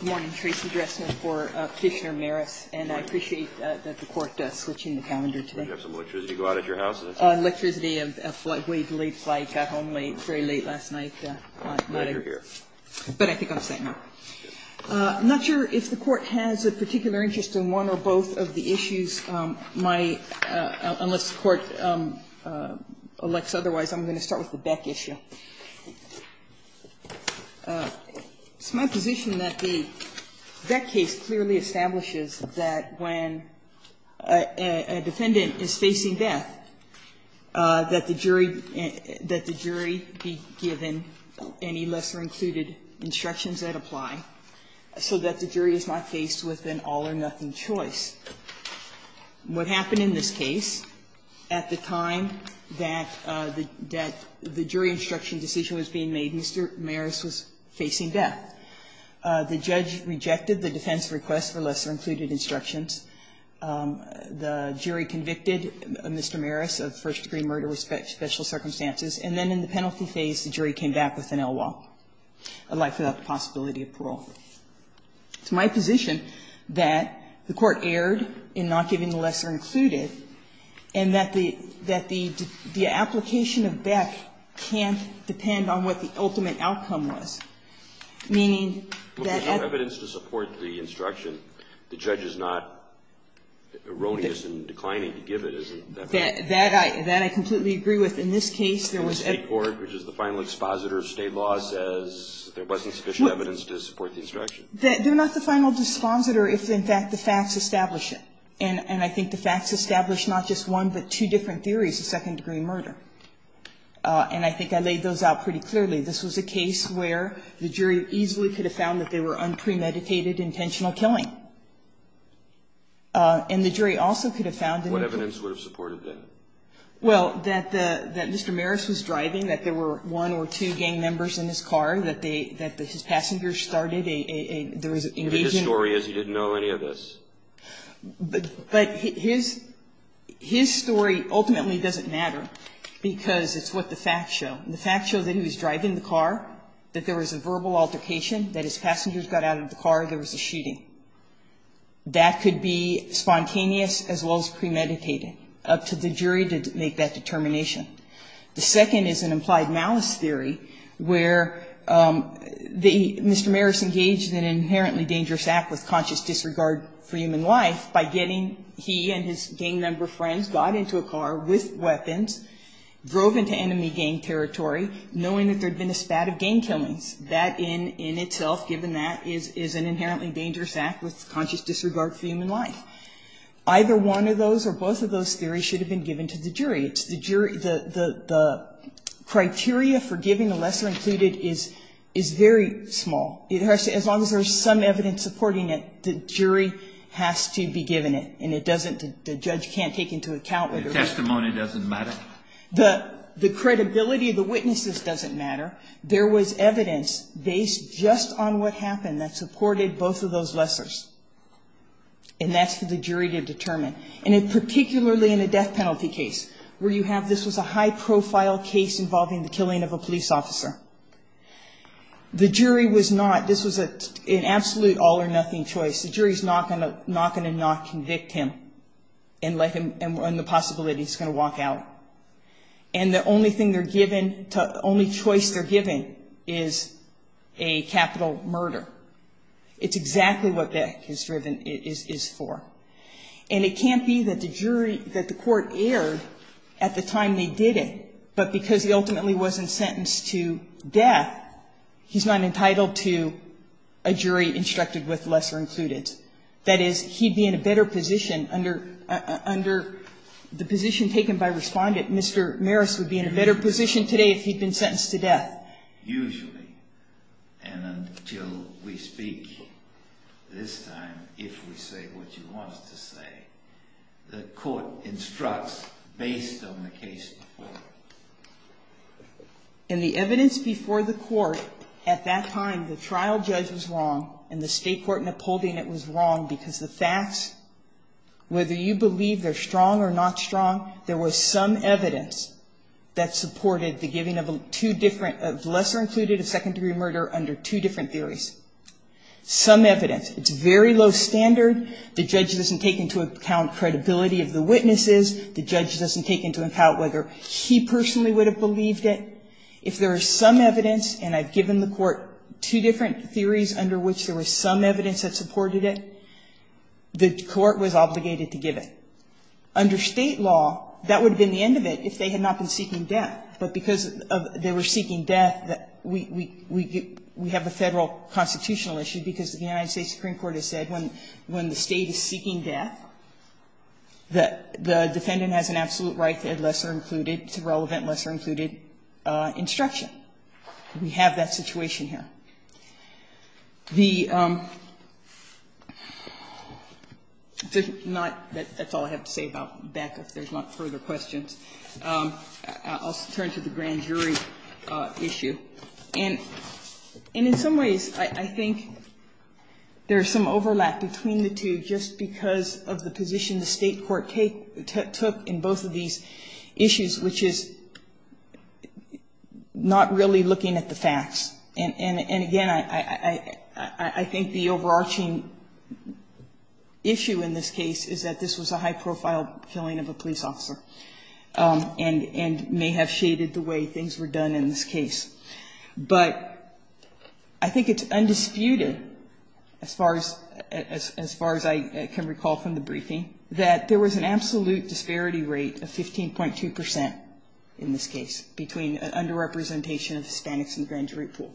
Good morning, Tracey Dressner for Kishner-Mares, and I appreciate that the Court is switching the calendar today. Do you have some electricity to go out at your house? Electricity, we had a late flight, got home late, very late last night. But I think I'm set now. I'm not sure if the Court has a particular interest in one or both of the issues. Unless the Court elects otherwise, I'm going to start with the Beck issue. It's my position that the Beck case clearly establishes that when a defendant is facing death, that the jury be given any lesser-included instructions that apply, so that the jury is not faced with an all-or-nothing choice. What happened in this case, at the time that the jury instruction decision was being made, Mr. Mares was facing death. The judge rejected the defense request for lesser-included instructions. The jury convicted Mr. Mares of first-degree murder with special circumstances. And then in the penalty phase, the jury came back with an L-wall, a life without the possibility of parole. It's my position that the Court erred in not giving the lesser-included, and that the application of Beck can't depend on what the ultimate outcome was, meaning that the judge is not erroneous in declining to give it. Isn't that right? That I completely agree with. In this case, there was a court, which is the final expositor of State law, says there wasn't sufficient evidence to support the instruction. They're not the final expositor if, in fact, the facts establish it. And I think the facts establish not just one, but two different theories of second-degree murder. And I think I laid those out pretty clearly. This was a case where the jury easily could have found that they were unpremeditated, intentional killing. And the jury also could have found that they were premeditated. What evidence would have supported that? Well, that Mr. Mares was driving, that there were one or two gang members in his car, that his passengers started a, there was an invasion. But his story is he didn't know any of this. But his story ultimately doesn't matter, because it's what the facts show. And the facts show that he was driving the car, that there was a verbal altercation, that his passengers got out of the car, there was a shooting. That could be spontaneous as well as premeditated. Up to the jury to make that determination. The second is an implied malice theory where the Mr. Mares engaged in an inherently dangerous act with conscious disregard for human life by getting, he and his gang member friends got into a car with weapons, drove into enemy gang territory, knowing that there had been a spat of gang killings. That in itself, given that, is an inherently dangerous act with conscious disregard for human life. Either one of those or both of those theories should have been given to the jury. The criteria for giving a lesser included is very small. As long as there's some evidence supporting it, the jury has to be given it. And it doesn't, the judge can't take into account. The testimony doesn't matter? The credibility of the witnesses doesn't matter. There was evidence based just on what happened that supported both of those lessers. And that's for the jury to determine. And particularly in a death penalty case where you have, this was a high profile case involving the killing of a police officer. The jury was not, this was an absolute all or nothing choice. The jury is not going to not convict him and let him, and run the possibility he's going to walk out. And the only thing they're given, the only choice they're given is a capital murder. It's exactly what death is driven, is for. And it can't be that the jury, that the court erred at the time they did it. But because he ultimately wasn't sentenced to death, he's not entitled to a jury instructed with lesser included. That is, he'd be in a better position under the position taken by respondent. Mr. Maris would be in a better position today if he'd been sentenced to death. Usually, and until we speak this time, if we say what you want us to say, the court instructs based on the case before. In the evidence before the court, at that time, the trial judge was wrong, and the state court in upholding it was wrong because the facts, whether you believe they're strong or not strong, there was some evidence that supported the giving of two different, of lesser included, of second degree murder under two different theories. Some evidence. It's very low standard. The judge doesn't take into account credibility of the witnesses. The judge doesn't take into account whether he personally would have believed it. If there was some evidence, and I've given the court two different theories under which there was some evidence that supported it, the court was obligated to give it. Under State law, that would have been the end of it if they had not been seeking death, but because they were seeking death, we have a Federal constitutional issue because the United States Supreme Court has said when the State is seeking death, the defendant has an absolute right to lesser included, to relevant lesser included instruction. We have that situation here. The, not, that's all I have to say about Becca if there's not further questions. I'll turn to the grand jury issue. And in some ways, I think there's some overlap between the two just because of the position the state court took in both of these issues, which is not really looking at the facts. And again, I think the overarching issue in this case is that this was a high profile killing of a police officer and may have shaded the way things were done in this case. But I think it's undisputed, as far as I can recall from the briefing, that there was an absolute disparity rate of 15.2 percent in this case between underrepresentation of Hispanics in the grand jury pool.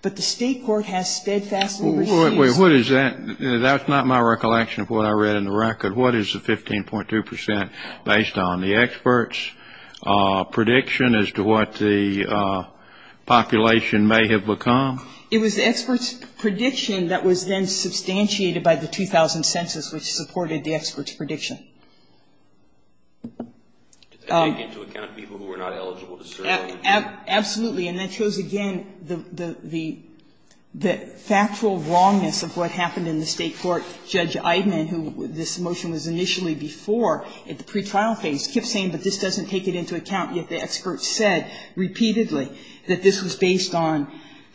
But the state court has steadfastly received. What is that? That's not my recollection of what I read in the record. What is the 15.2 percent based on the experts' prediction as to what the population may have become? It was the experts' prediction that was then substantiated by the 2000 census, which supported the experts' prediction. Absolutely. And that shows, again, the factual wrongness of what happened in the state court. Judge Eidman, who this motion was initially before at the pretrial phase, kept saying, but this doesn't take it into account, yet the experts said repeatedly that this was based on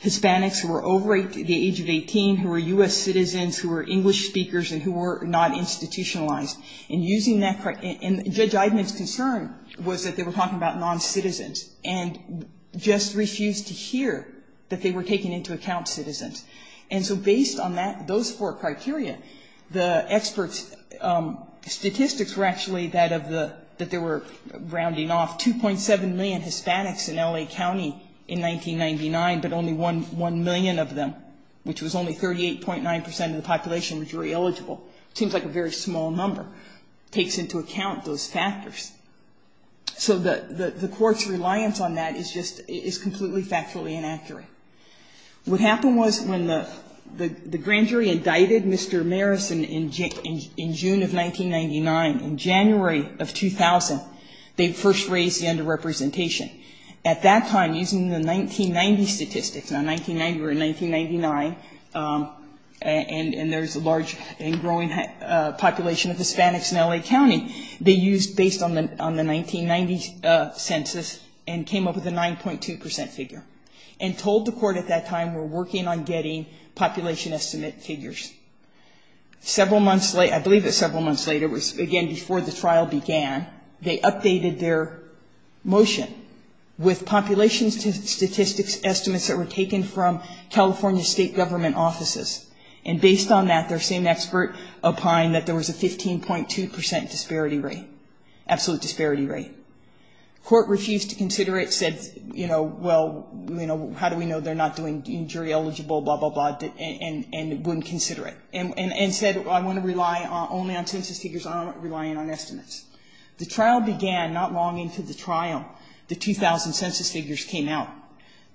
Hispanics who were over the age of 18, who were U.S. citizens, who were English speakers and who were not institutionalized And Judge Eidman's concern was that they were talking about non-citizens and just refused to hear that they were taking into account citizens. And so based on that, those four criteria, the experts' statistics were actually that of the, that they were rounding off 2.7 million Hispanics in L.A. County in 1999, but only 1 million of them, which was only 38.9 percent of the population jury eligible. Seems like a very small number. Takes into account those factors. So the court's reliance on that is just, is completely factually inaccurate. What happened was when the grand jury indicted Mr. Marison in June of 1999, in January of 2000, they first raised the underrepresentation. At that time, using the 1990 statistics, now 1990 or 1999, and there's a large and growing population of Hispanics in L.A. County, they used, based on the 1990 census, and came up with a 9.2 percent figure. And told the court at that time, we're working on getting population estimate figures. Several months later, I believe it was several months later, it was again before the trial began, they updated their motion with population statistics estimates that were taken from California state government offices. And based on that, their same expert opined that there was a 15.2 percent disparity rate. Absolute disparity rate. Court refused to consider it, said, you know, well, you know, how do we know they're not doing jury eligible, blah, blah, blah, and wouldn't consider it. And said, well, I want to rely only on census figures. I don't want to rely on estimates. The trial began not long into the trial. The 2000 census figures came out.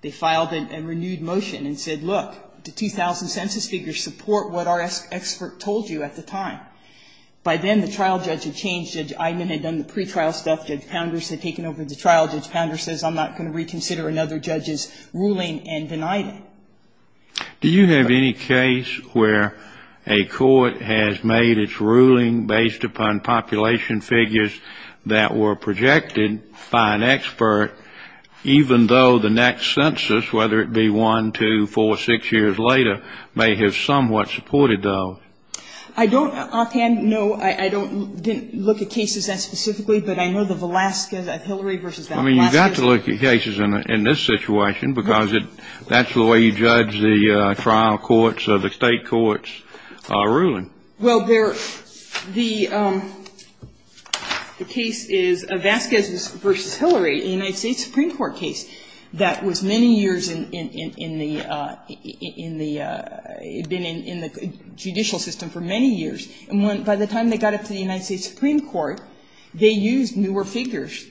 They filed a renewed motion and said, look, the 2000 census figures support what our expert told you at the time. By then, the trial judge had changed. Judge Eidman had done the pretrial stuff. Judge Pounder had taken over the trial. Judge Pounder says, I'm not going to reconsider another judge's ruling and denied it. Do you have any case where a court has made its ruling based upon population figures that were projected by an expert, even though the next census, whether it be one, two, four, six years later, may have somewhat supported those? I don't offhand know. I didn't look at cases that specifically, but I know the Velazquez of Hillary versus the Velazquez. I mean, you've got to look at cases in this situation, because that's the way you judge the trial courts or the state courts' ruling. Well, the case is Velazquez versus Hillary, a United States Supreme Court case that was many years in the judicial system for many years. And by the time they got it to the United States Supreme Court, they used newer figures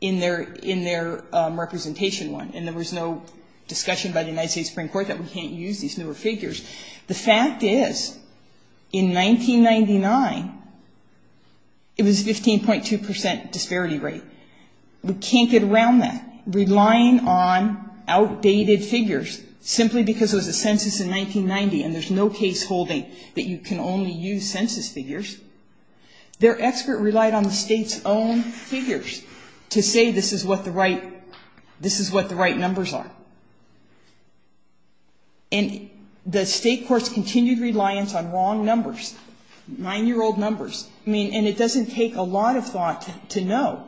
in their representation one. And there was no discussion by the United States Supreme Court that we can't use these newer figures. The fact is, in 1999, it was 15.2 percent disparity rate. We can't get around that. Relying on outdated figures simply because it was a census in 1990 and there's no case holding that you can only use census figures, their expert relied on the state's own figures to say this is what the right numbers are. And the state courts continued reliance on wrong numbers, nine-year-old numbers. I mean, and it doesn't take a lot of thought to know.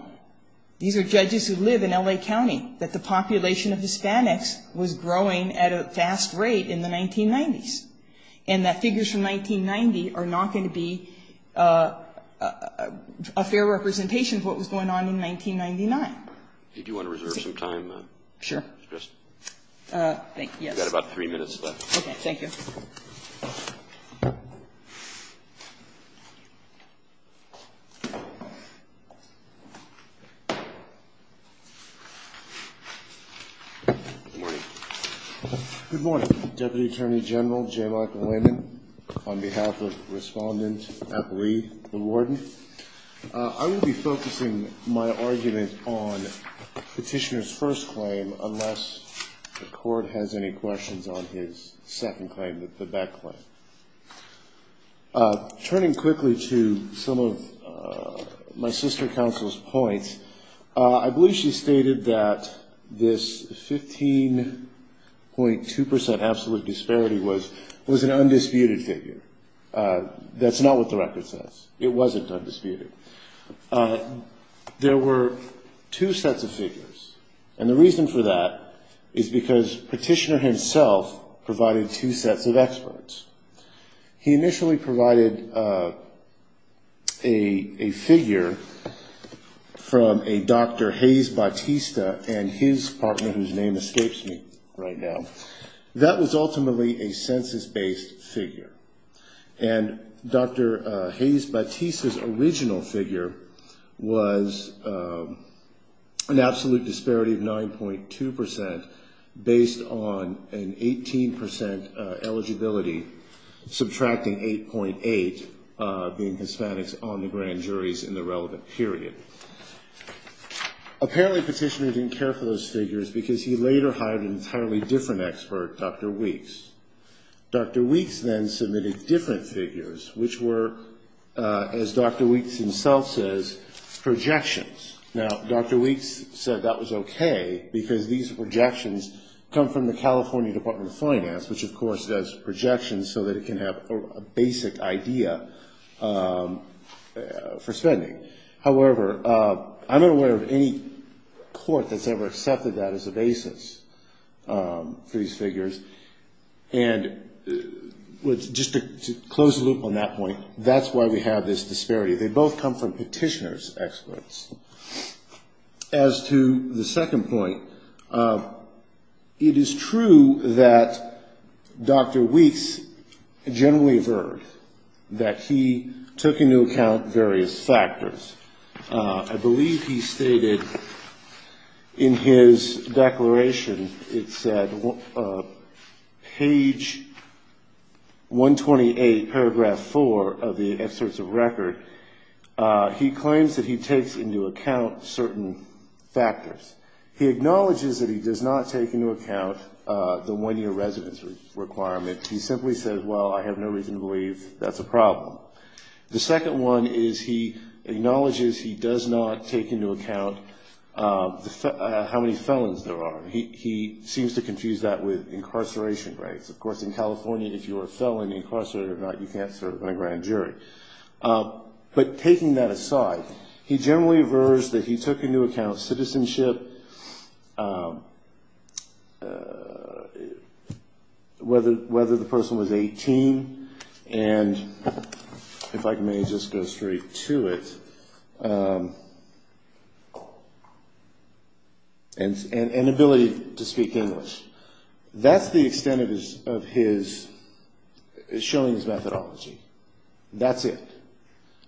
These are judges who live in L.A. County, that the population of Hispanics was growing at a fast rate in the 1990s, and that figures from 1990 are not going to be a fair representation of what was going on in 1999. Do you want to reserve some time? Sure. Thank you. You've got about three minutes left. Okay. Thank you. Good morning. Good morning, Deputy Attorney General J. Michael Landon. On behalf of Respondent Appley, the warden, I will be focusing my argument on the petitioner's first claim unless the court has any questions on his second claim, the Beck claim. Turning quickly to some of my sister counsel's points, I believe she stated that this 15.2 percent absolute disparity was an undisputed figure. That's not what the record says. It wasn't undisputed. There were two sets of figures, and the reason for that is because petitioner himself provided two sets of experts. He initially provided a figure from a Dr. Hayes Batista and his partner, whose name escapes me right now. That was ultimately a census-based figure. And Dr. Hayes Batista's original figure was an absolute disparity of 9.2 percent based on an 18 percent eligibility, subtracting 8.8 being Hispanics on the grand juries in the relevant period. Apparently, petitioner didn't care for those figures because he later hired an entirely different expert, Dr. Weeks. Dr. Weeks then submitted different figures, which were, as Dr. Weeks himself says, projections. Now, Dr. Weeks said that was okay, because these projections come from the California Department of Health and Human Services. However, I'm unaware of any court that's ever accepted that as a basis for these figures. And just to close the loop on that point, that's why we have this disparity. They both come from petitioner's experts. As to the second point, it is true that Dr. Weeks generally averred, that he took into account various factors. I believe he stated in his declaration, it said, page 128, paragraph 4 of the excerpts of record, he claims that he takes into account certain factors. He acknowledges that he does not take into account the one-year residence requirement. He simply says, well, I have no reason to believe that's a problem. The second one is he acknowledges he does not take into account how many felons there are. He seems to confuse that with incarceration rates. Of course, in California, if you are a felon, incarcerated or not, you can't serve in a grand jury. But taking that aside, he generally averred that he took into account citizenship, whether the person was 18, and, if I may just go straight to it, and ability to speak English. That's the extent of his, showing his methodology. That's it.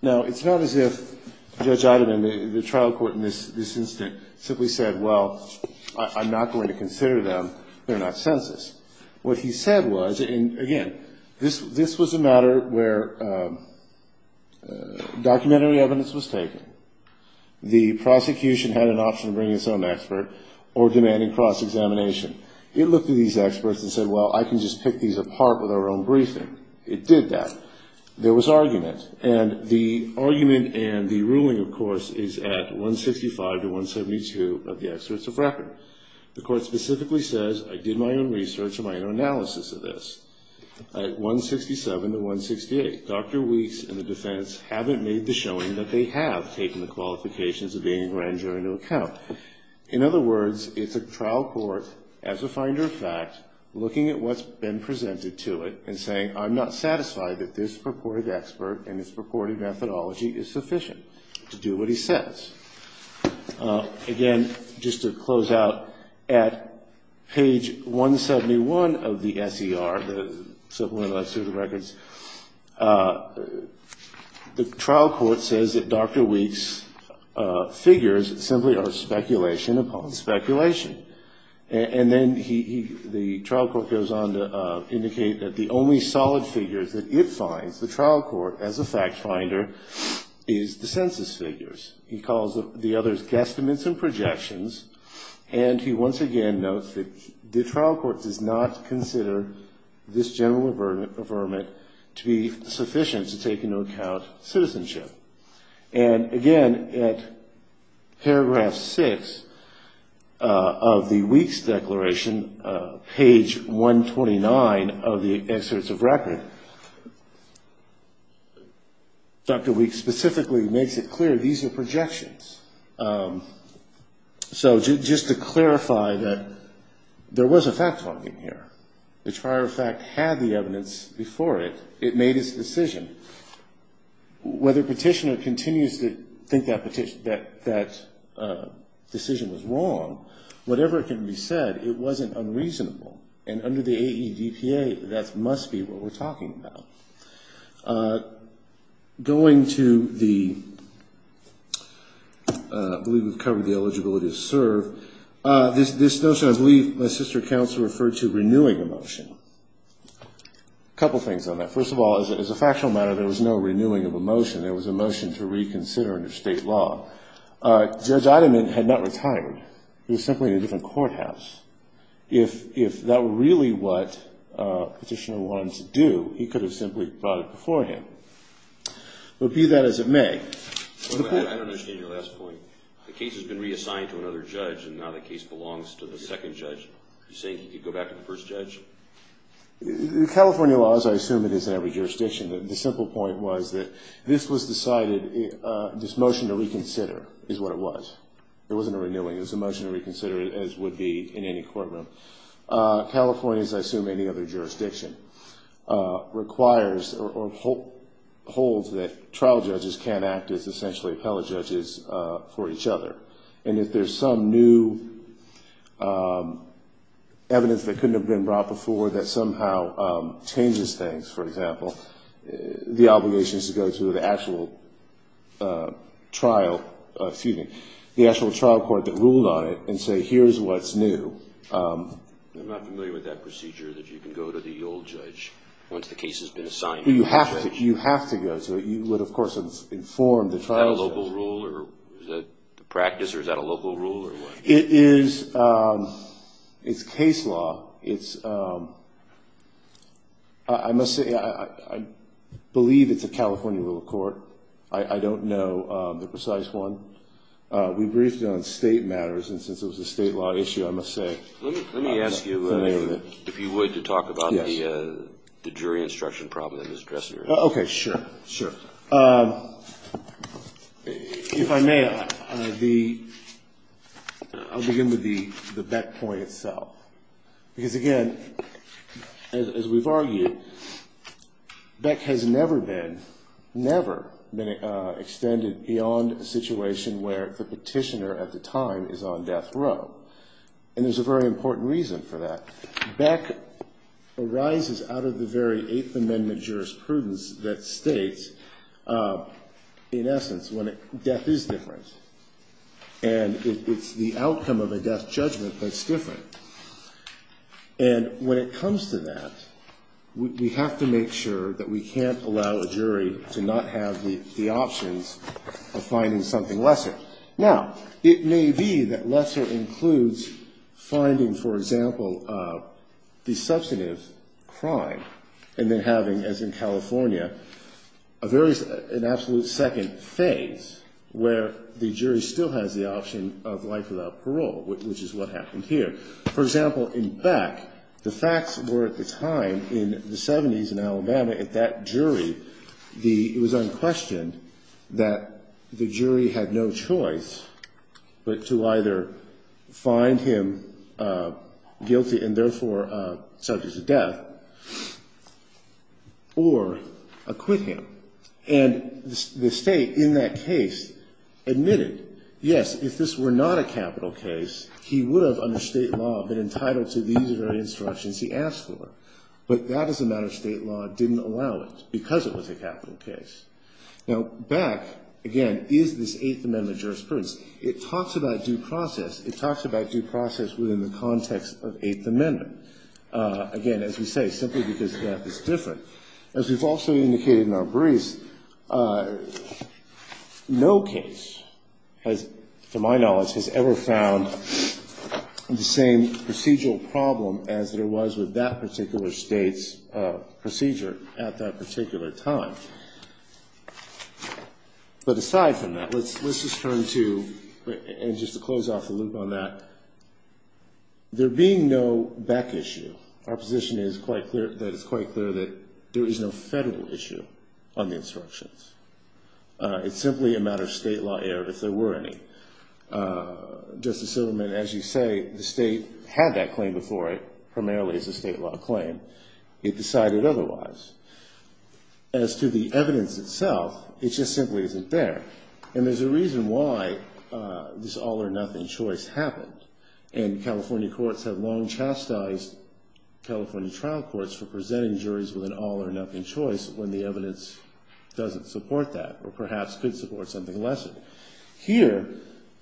Now, it's not as if Judge Ottoman, the trial court in this instance, simply said, well, I'm not going to consider them. They're not census. What he said was, and again, this was a matter where documentary evidence was taken. The prosecution had an option of bringing its own expert or demanding cross-examination. It looked at these experts and said, well, I can just pick these apart with our own briefing. It did that. There was argument, and the argument and the ruling, of course, is at 165 to 172 of the experts of record. The court specifically says, I did my own research and my own analysis of this. At 167 to 168, Dr. Weeks and the defense haven't made the showing that they have taken the qualifications of being a grand jury into account. In other words, it's a trial court, as a finder of fact, looking at what's been presented to it and saying, I'm not satisfied that this purported expert and this purported methodology is sufficient to do what he says. Again, just to close out, at page 171 of the S.E.R., the Civil and Legislative Records, the trial court says that Dr. Weeks' figures simply are speculation upon speculation. And then the trial court goes on to indicate that the only solid figures that it finds, the trial court, as a fact finder, is the census figures. He calls the others guesstimates and projections, and he once again notes that the trial court does not consider this general affirmment to be sufficient to take into account citizenship. And again, at paragraph 6 of the Weeks' declaration, page 129 of the excerpts of record, Dr. Weeks specifically makes it clear these are projections. So just to clarify that there was a fact finding here. The trial court, in fact, had the evidence before it. It made its decision. Whether petitioner continues to think that decision was wrong, whatever it can be said, it wasn't unreasonable. And under the AEVPA, that must be what we're talking about. Going to the, I believe we've covered the eligibility to serve. There was a motion to renew the motion. A couple things on that. First of all, as a factual matter, there was no renewing of a motion. There was a motion to reconsider under state law. Judge Eideman had not retired. He was simply in a different courthouse. If that were really what petitioner wanted to do, he could have simply brought it before him. But be that as it may... I don't understand your last point. The case has been reassigned to another judge, and now the case belongs to the second judge. You say he could go back to the first judge? California law, as I assume it is in every jurisdiction, the simple point was that this was decided... This motion to reconsider is what it was. It wasn't a renewing. It was a motion to reconsider, as would be in any courtroom. California, as I assume any other jurisdiction, requires or holds that trial judges can't act as essentially appellate judges for each other. And if there's some new evidence that couldn't have been brought before that somehow changes things, for example, the obligation is to go to the actual trial court that ruled on it and say, here's what's new. I'm not familiar with that procedure, that you can go to the old judge once the case has been assigned. You have to go. Is that a local rule? It's case law. I believe it's a California rule of court. I don't know the precise one. We briefed on state matters, and since it was a state law issue, I must say I'm not familiar with it. If you would, to talk about the jury instruction problem that Ms. Dressinger had. Okay, sure. If I may, I'll begin with the Beck point itself. Because, again, as we've argued, Beck has never been extended beyond a situation where the petitioner at the time is on death row. And there's a very important reason for that. Beck arises out of the very Eighth Amendment jurisprudence that states, in essence, death is different. And it's the outcome of a death judgment that's different. And when it comes to that, we have to make sure that we can't allow a jury to not have the options of finding something lesser. Now, it may be that lesser includes finding, for example, the substantive crime, and then having, as in California, an absolute second phase where the jury still has the option of life without parole, which is what happened here. For example, in Beck, the facts were, at the time, in the 70s in Alabama, at that jury, it was unquestioned that the jury had no choice but to either find him guilty and, therefore, subject to death, or acquit him. And the State, in that case, admitted, yes, if this were not a capital case, he would have, under State law, been entitled to these very instructions he asked for. But that, as a matter of State law, didn't allow it because it was a capital case. Now, Beck, again, is this Eighth Amendment jurisprudence. It talks about due process. It talks about due process within the context of Eighth Amendment. Again, as we say, simply because death is different. As we've also indicated in our briefs, no case has, to my knowledge, has ever found the same procedural problem as there was with that particular State's procedure at that particular time. But aside from that, let's just turn to, and just to close off the loop on that, there being no Beck issue, our position is that it's quite clear that there is no Federal issue on the instructions. It's simply a matter of State law error, if there were any. Justice Silverman, as you say, the State had that claim before it, primarily as a State law claim. It decided otherwise. As to the evidence itself, it just simply isn't there. And there's a reason why this all-or-nothing choice happened. And California courts have long chastised California trial courts for presenting juries with an all-or-nothing choice when the evidence doesn't support that, or perhaps could support something lesser. Here,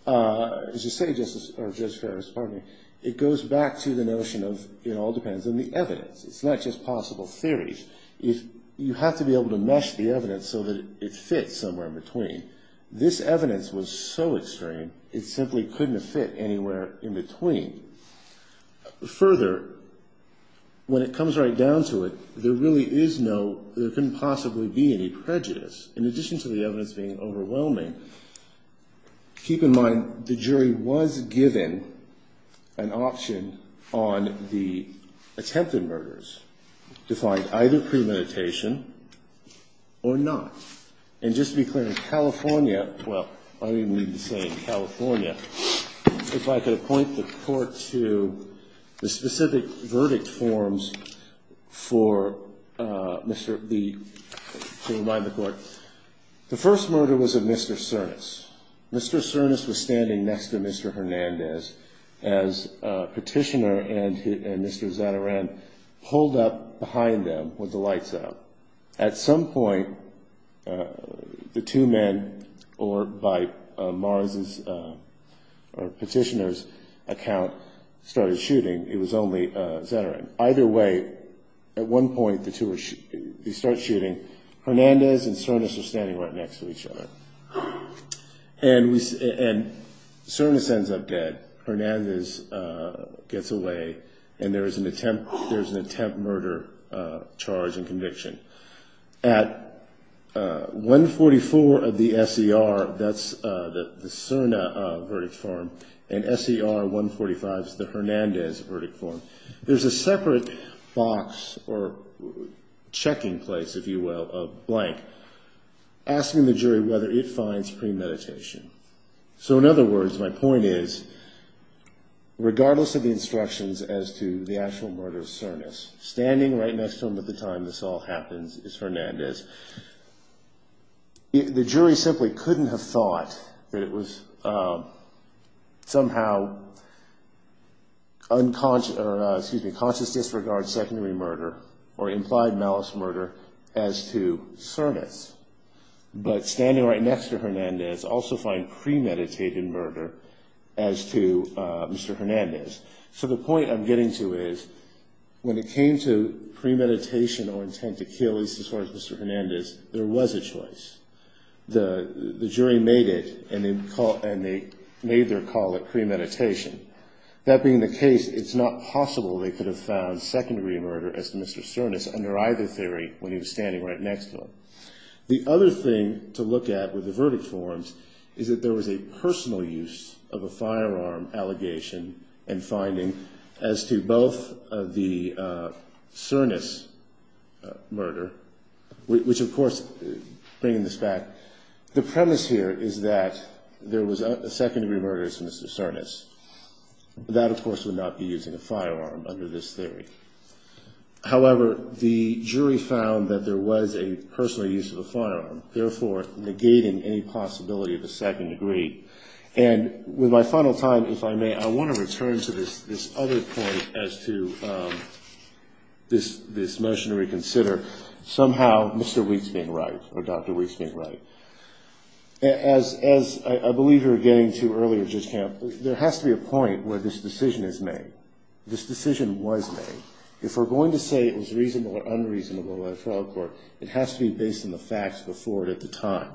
it goes back to the notion of it all depends on the evidence. It's not just possible theories. You have to be able to mesh the evidence so that it fits somewhere in between. This evidence was so extreme, it simply couldn't have fit anywhere in between. Further, when it comes right down to it, there really is no, there couldn't possibly be any prejudice. In addition to the evidence being overwhelming, keep in mind the jury was given an option on the attempted murders to find either premeditation or not. And just to be clear, in California, well, I didn't mean to say in California. If I could point the Court to the specific verdict forms for Mr., to remind the Court, the first murder was of Mr. Cernas. Mr. Cernas was standing next to Mr. Hernandez as Petitioner and Mr. Zatarain pulled up behind them with the lights out. At some point, the two men, or by Mars' or Petitioner's account, started shooting. It was only Zatarain. Either way, at one point, they start shooting. Hernandez and Cernas are standing right next to each other. And Cernas ends up dead. Hernandez gets away. At 144 of the S.E.R., that's the Cerna verdict form, and S.E.R. 145 is the Hernandez verdict form. There's a separate box, or checking place, if you will, of blank, asking the jury whether it finds premeditation. So in other words, my point is, regardless of the instructions as to the actual murder of Cernas, standing right next to him at the time this all happens is Hernandez. The jury simply couldn't have thought that it was somehow conscious disregard, secondary murder, or implied malice murder, as to Cernas. But standing right next to Hernandez also found premeditated murder as to Mr. Hernandez. So the point I'm getting to is, when it came to premeditation or intent to kill, at least as far as Mr. Hernandez, there was a choice. The jury made it, and they made their call at premeditation. That being the case, it's not possible they could have found secondary murder as to Mr. Cernas under either theory when he was standing right next to him. The other thing to look at with the verdict forms is that there was a personal use of a firearm allegation and finding as to both the Cernas murder, which of course, bringing this back, the premise here is that there was a secondary murder as to Mr. Cernas. That, of course, would not be using a firearm under this theory. However, the jury found that there was a personal use of a firearm, therefore negating any possibility of a second degree. And with my final time, if I may, I want to return to this other point as to this motion to reconsider. Somehow, Mr. Wheat's being right, or Dr. Wheat's being right. As I believe we were getting to earlier, Judge Camp, there has to be a point where this decision is made. This decision was made. If we're going to say it was reasonable or unreasonable by the trial court, it has to be based on the facts before it at the time.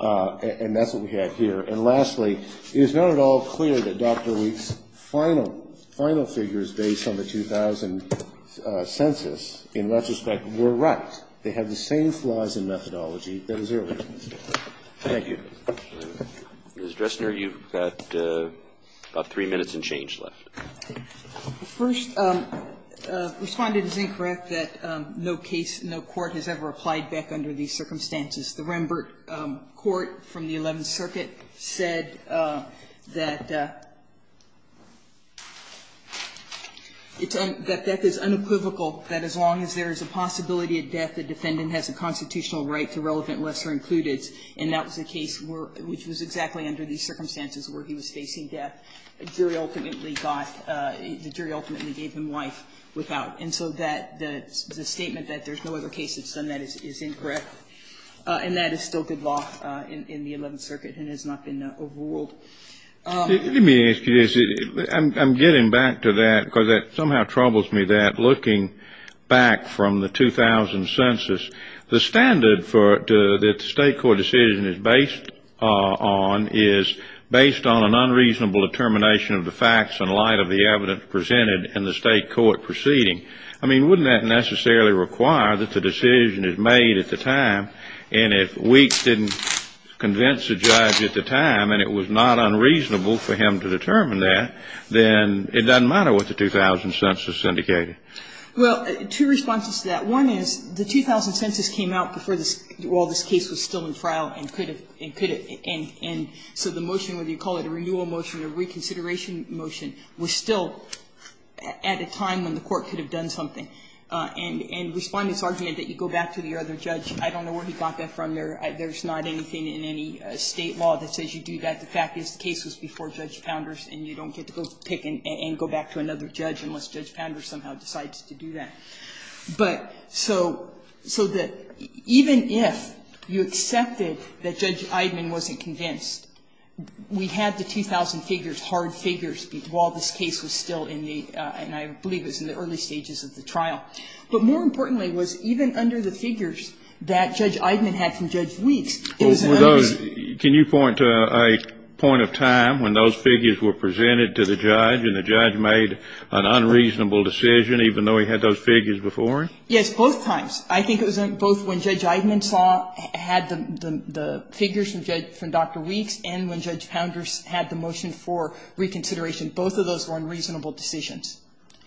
And that's what we have here. And lastly, it is not at all clear that Dr. Wheat's final figures based on the 2000 census, in retrospect, were right. They have the same flaws in methodology that his earlier ones. Thank you. Roberts. Ms. Dressner, you've got about three minutes and change left. First, Respondent is incorrect that no case, no court has ever applied Beck under these circumstances. The Rembert Court from the Eleventh Circuit said that it's un equivocal that as long as there is a possibility of death, the defendant has a constitutional right to relevant lesser-includeds, and that was the case which was exactly under these circumstances where he was facing death. The jury ultimately got the jury ultimately gave him life without. And so that the statement that there's no other case that's done that is incorrect. And that is still good law in the Eleventh Circuit and has not been overruled. Let me ask you this. I'm getting back to that because it somehow troubles me that looking back from the 2000 census, the standard that the state court decision is based on is based on an unreasonable determination of the facts in light of the evidence presented in the state court proceeding. I mean, wouldn't that necessarily require that the decision is made at the time, and if it's not unreasonable for him to determine that, then it doesn't matter what the 2000 census indicated? Well, two responses to that. One is the 2000 census came out before this case was still in trial and could have and could have. And so the motion, whether you call it a renewal motion or reconsideration motion, was still at a time when the court could have done something. And Respondent's argument that you go back to the other judge, I don't know where he got that from. There's not anything in any state law that says you do that. The fact is the case was before Judge Pounder's, and you don't get to go pick and go back to another judge unless Judge Pounder somehow decides to do that. But so that even if you accepted that Judge Eidman wasn't convinced, we had the 2000 figures, hard figures, while this case was still in the, and I believe it was in the early stages of the trial. But more importantly was even under the figures that Judge Eidman had from Judge Weeks, it was an understatement. Can you point to a point of time when those figures were presented to the judge and the judge made an unreasonable decision, even though he had those figures before him? Yes, both times. I think it was both when Judge Eidman saw, had the figures from Judge, from Dr. Weeks, and when Judge Pounder had the motion for reconsideration. Both of those were unreasonable decisions.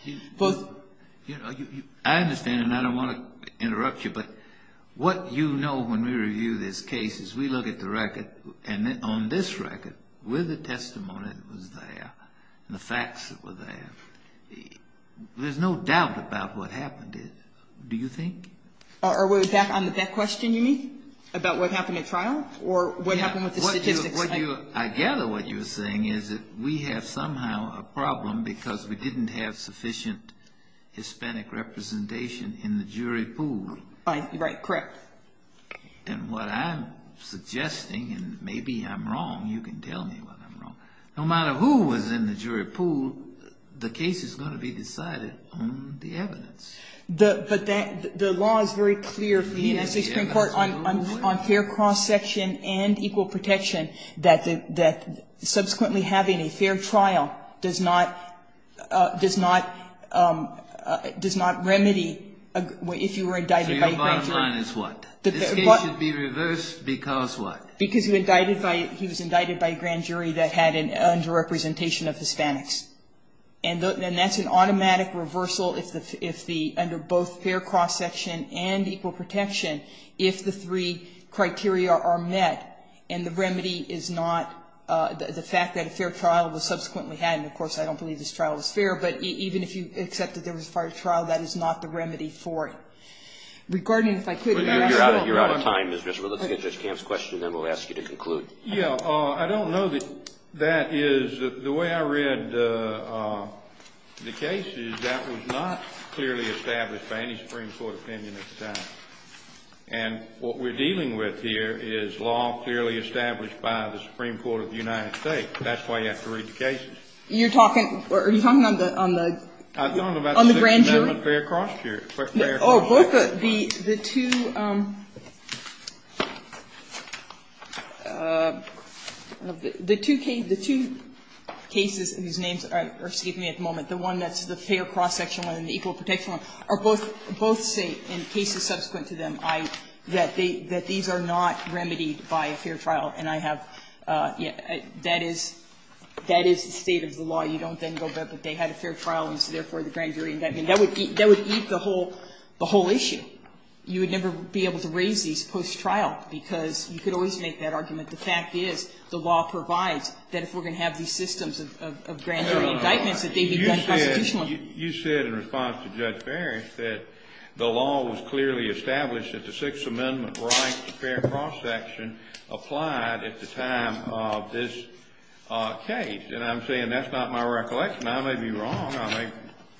I understand, and I don't want to interrupt you, but what you know when we review this case is we look at the record, and on this record, with the testimony that was there and the facts that were there, there's no doubt about what happened to it. Do you think? Are we back on that question you mean, about what happened at trial or what happened with the statistics? I gather what you're saying is that we have somehow a problem because we didn't have sufficient Hispanic representation in the jury pool. Right, correct. And what I'm suggesting, and maybe I'm wrong, you can tell me what I'm wrong. No matter who was in the jury pool, the case is going to be decided on the evidence. But the law is very clear for the United States Supreme Court on fair cross section and equal protection that subsequently having a fair trial does not remedy if you were indicted by a grand jury. So your bottom line is what? This case should be reversed because what? Because he was indicted by a grand jury that had an underrepresentation of Hispanics. And that's an automatic reversal if under both fair cross section and equal protection, if the three criteria are met and the remedy is not the fact that a fair trial was subsequently had. And, of course, I don't believe this trial was fair, but even if you accept that there was a fair trial, that is not the remedy for it. Regarding if I could add to that. You're out of time, Ms. Grisham. Let's get Judge Camp's question and then we'll ask you to conclude. Yes. I don't know that that is the way I read the case is that was not clearly established by any Supreme Court opinion at the time. And what we're dealing with here is law clearly established by the Supreme Court of the United States. That's why you have to read the cases. You're talking or are you talking on the grand jury? I'm talking about the Fair Cross Jury. Oh, both the two cases whose names are, excuse me, at the moment, the one that's both say, in cases subsequent to them, that these are not remedied by a fair trial. And I have, that is, that is the state of the law. You don't then go back that they had a fair trial and therefore the grand jury indictment. That would eat the whole issue. You would never be able to raise these post-trial because you could always make that argument. The fact is the law provides that if we're going to have these systems of grand jury indictments that they be done constitutionally. Well, you said in response to Judge Ferris that the law was clearly established that the Sixth Amendment right to fair cross-section applied at the time of this case. And I'm saying that's not my recollection. I may be wrong. I may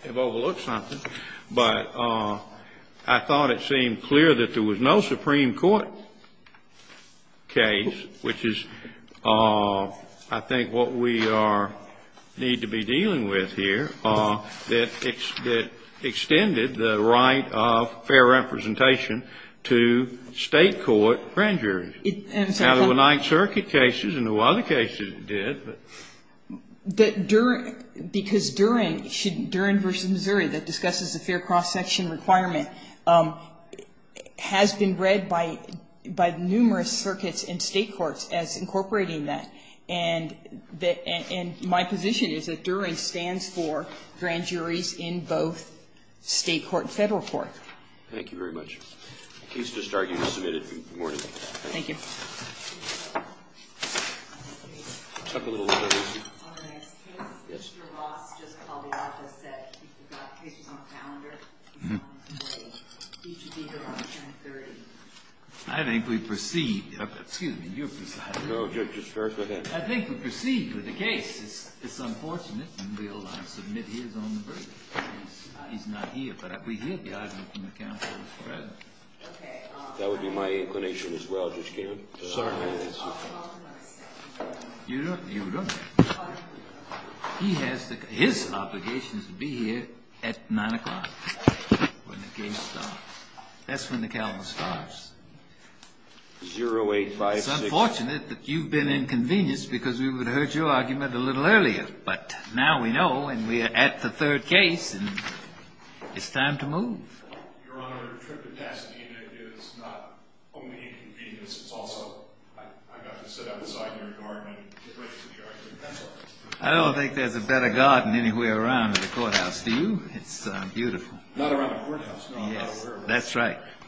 have overlooked something. But I thought it seemed clear that there was no Supreme Court case, which is, I think, what we are, need to be dealing with here, that extended the right of fair representation to State court grand juries. Now, there were Ninth Circuit cases and a lot of cases that did, but. That during, because during, during versus Missouri that discusses the fair cross-section requirement has been read by numerous circuits and State courts as incorporating that. And my position is that during stands for grand juries in both State court and Federal court. Thank you very much. The case is discharged and submitted. Good morning. Thank you. I think we proceed. Excuse me. I think we proceed with the case. It's unfortunate. We'll submit his on the verdict. He's not here, but we hear the argument from the counsel. That would be my inclination as well, Judge Kagan. You don't, you don't. He has the, his obligation is to be here at 9 o'clock when the case starts. That's when the calendar starts. 0856. It's unfortunate that you've been inconvenienced because we would have heard your argument a little earlier. But now we know and we are at the third case and it's time to move. Your Honor, the capacity is not only inconvenience, it's also, I got to sit outside your garden and get ready for the argument. I don't think there's a better garden anywhere around the courthouse. Do you? It's beautiful. Not around the courthouse. Yes, that's right.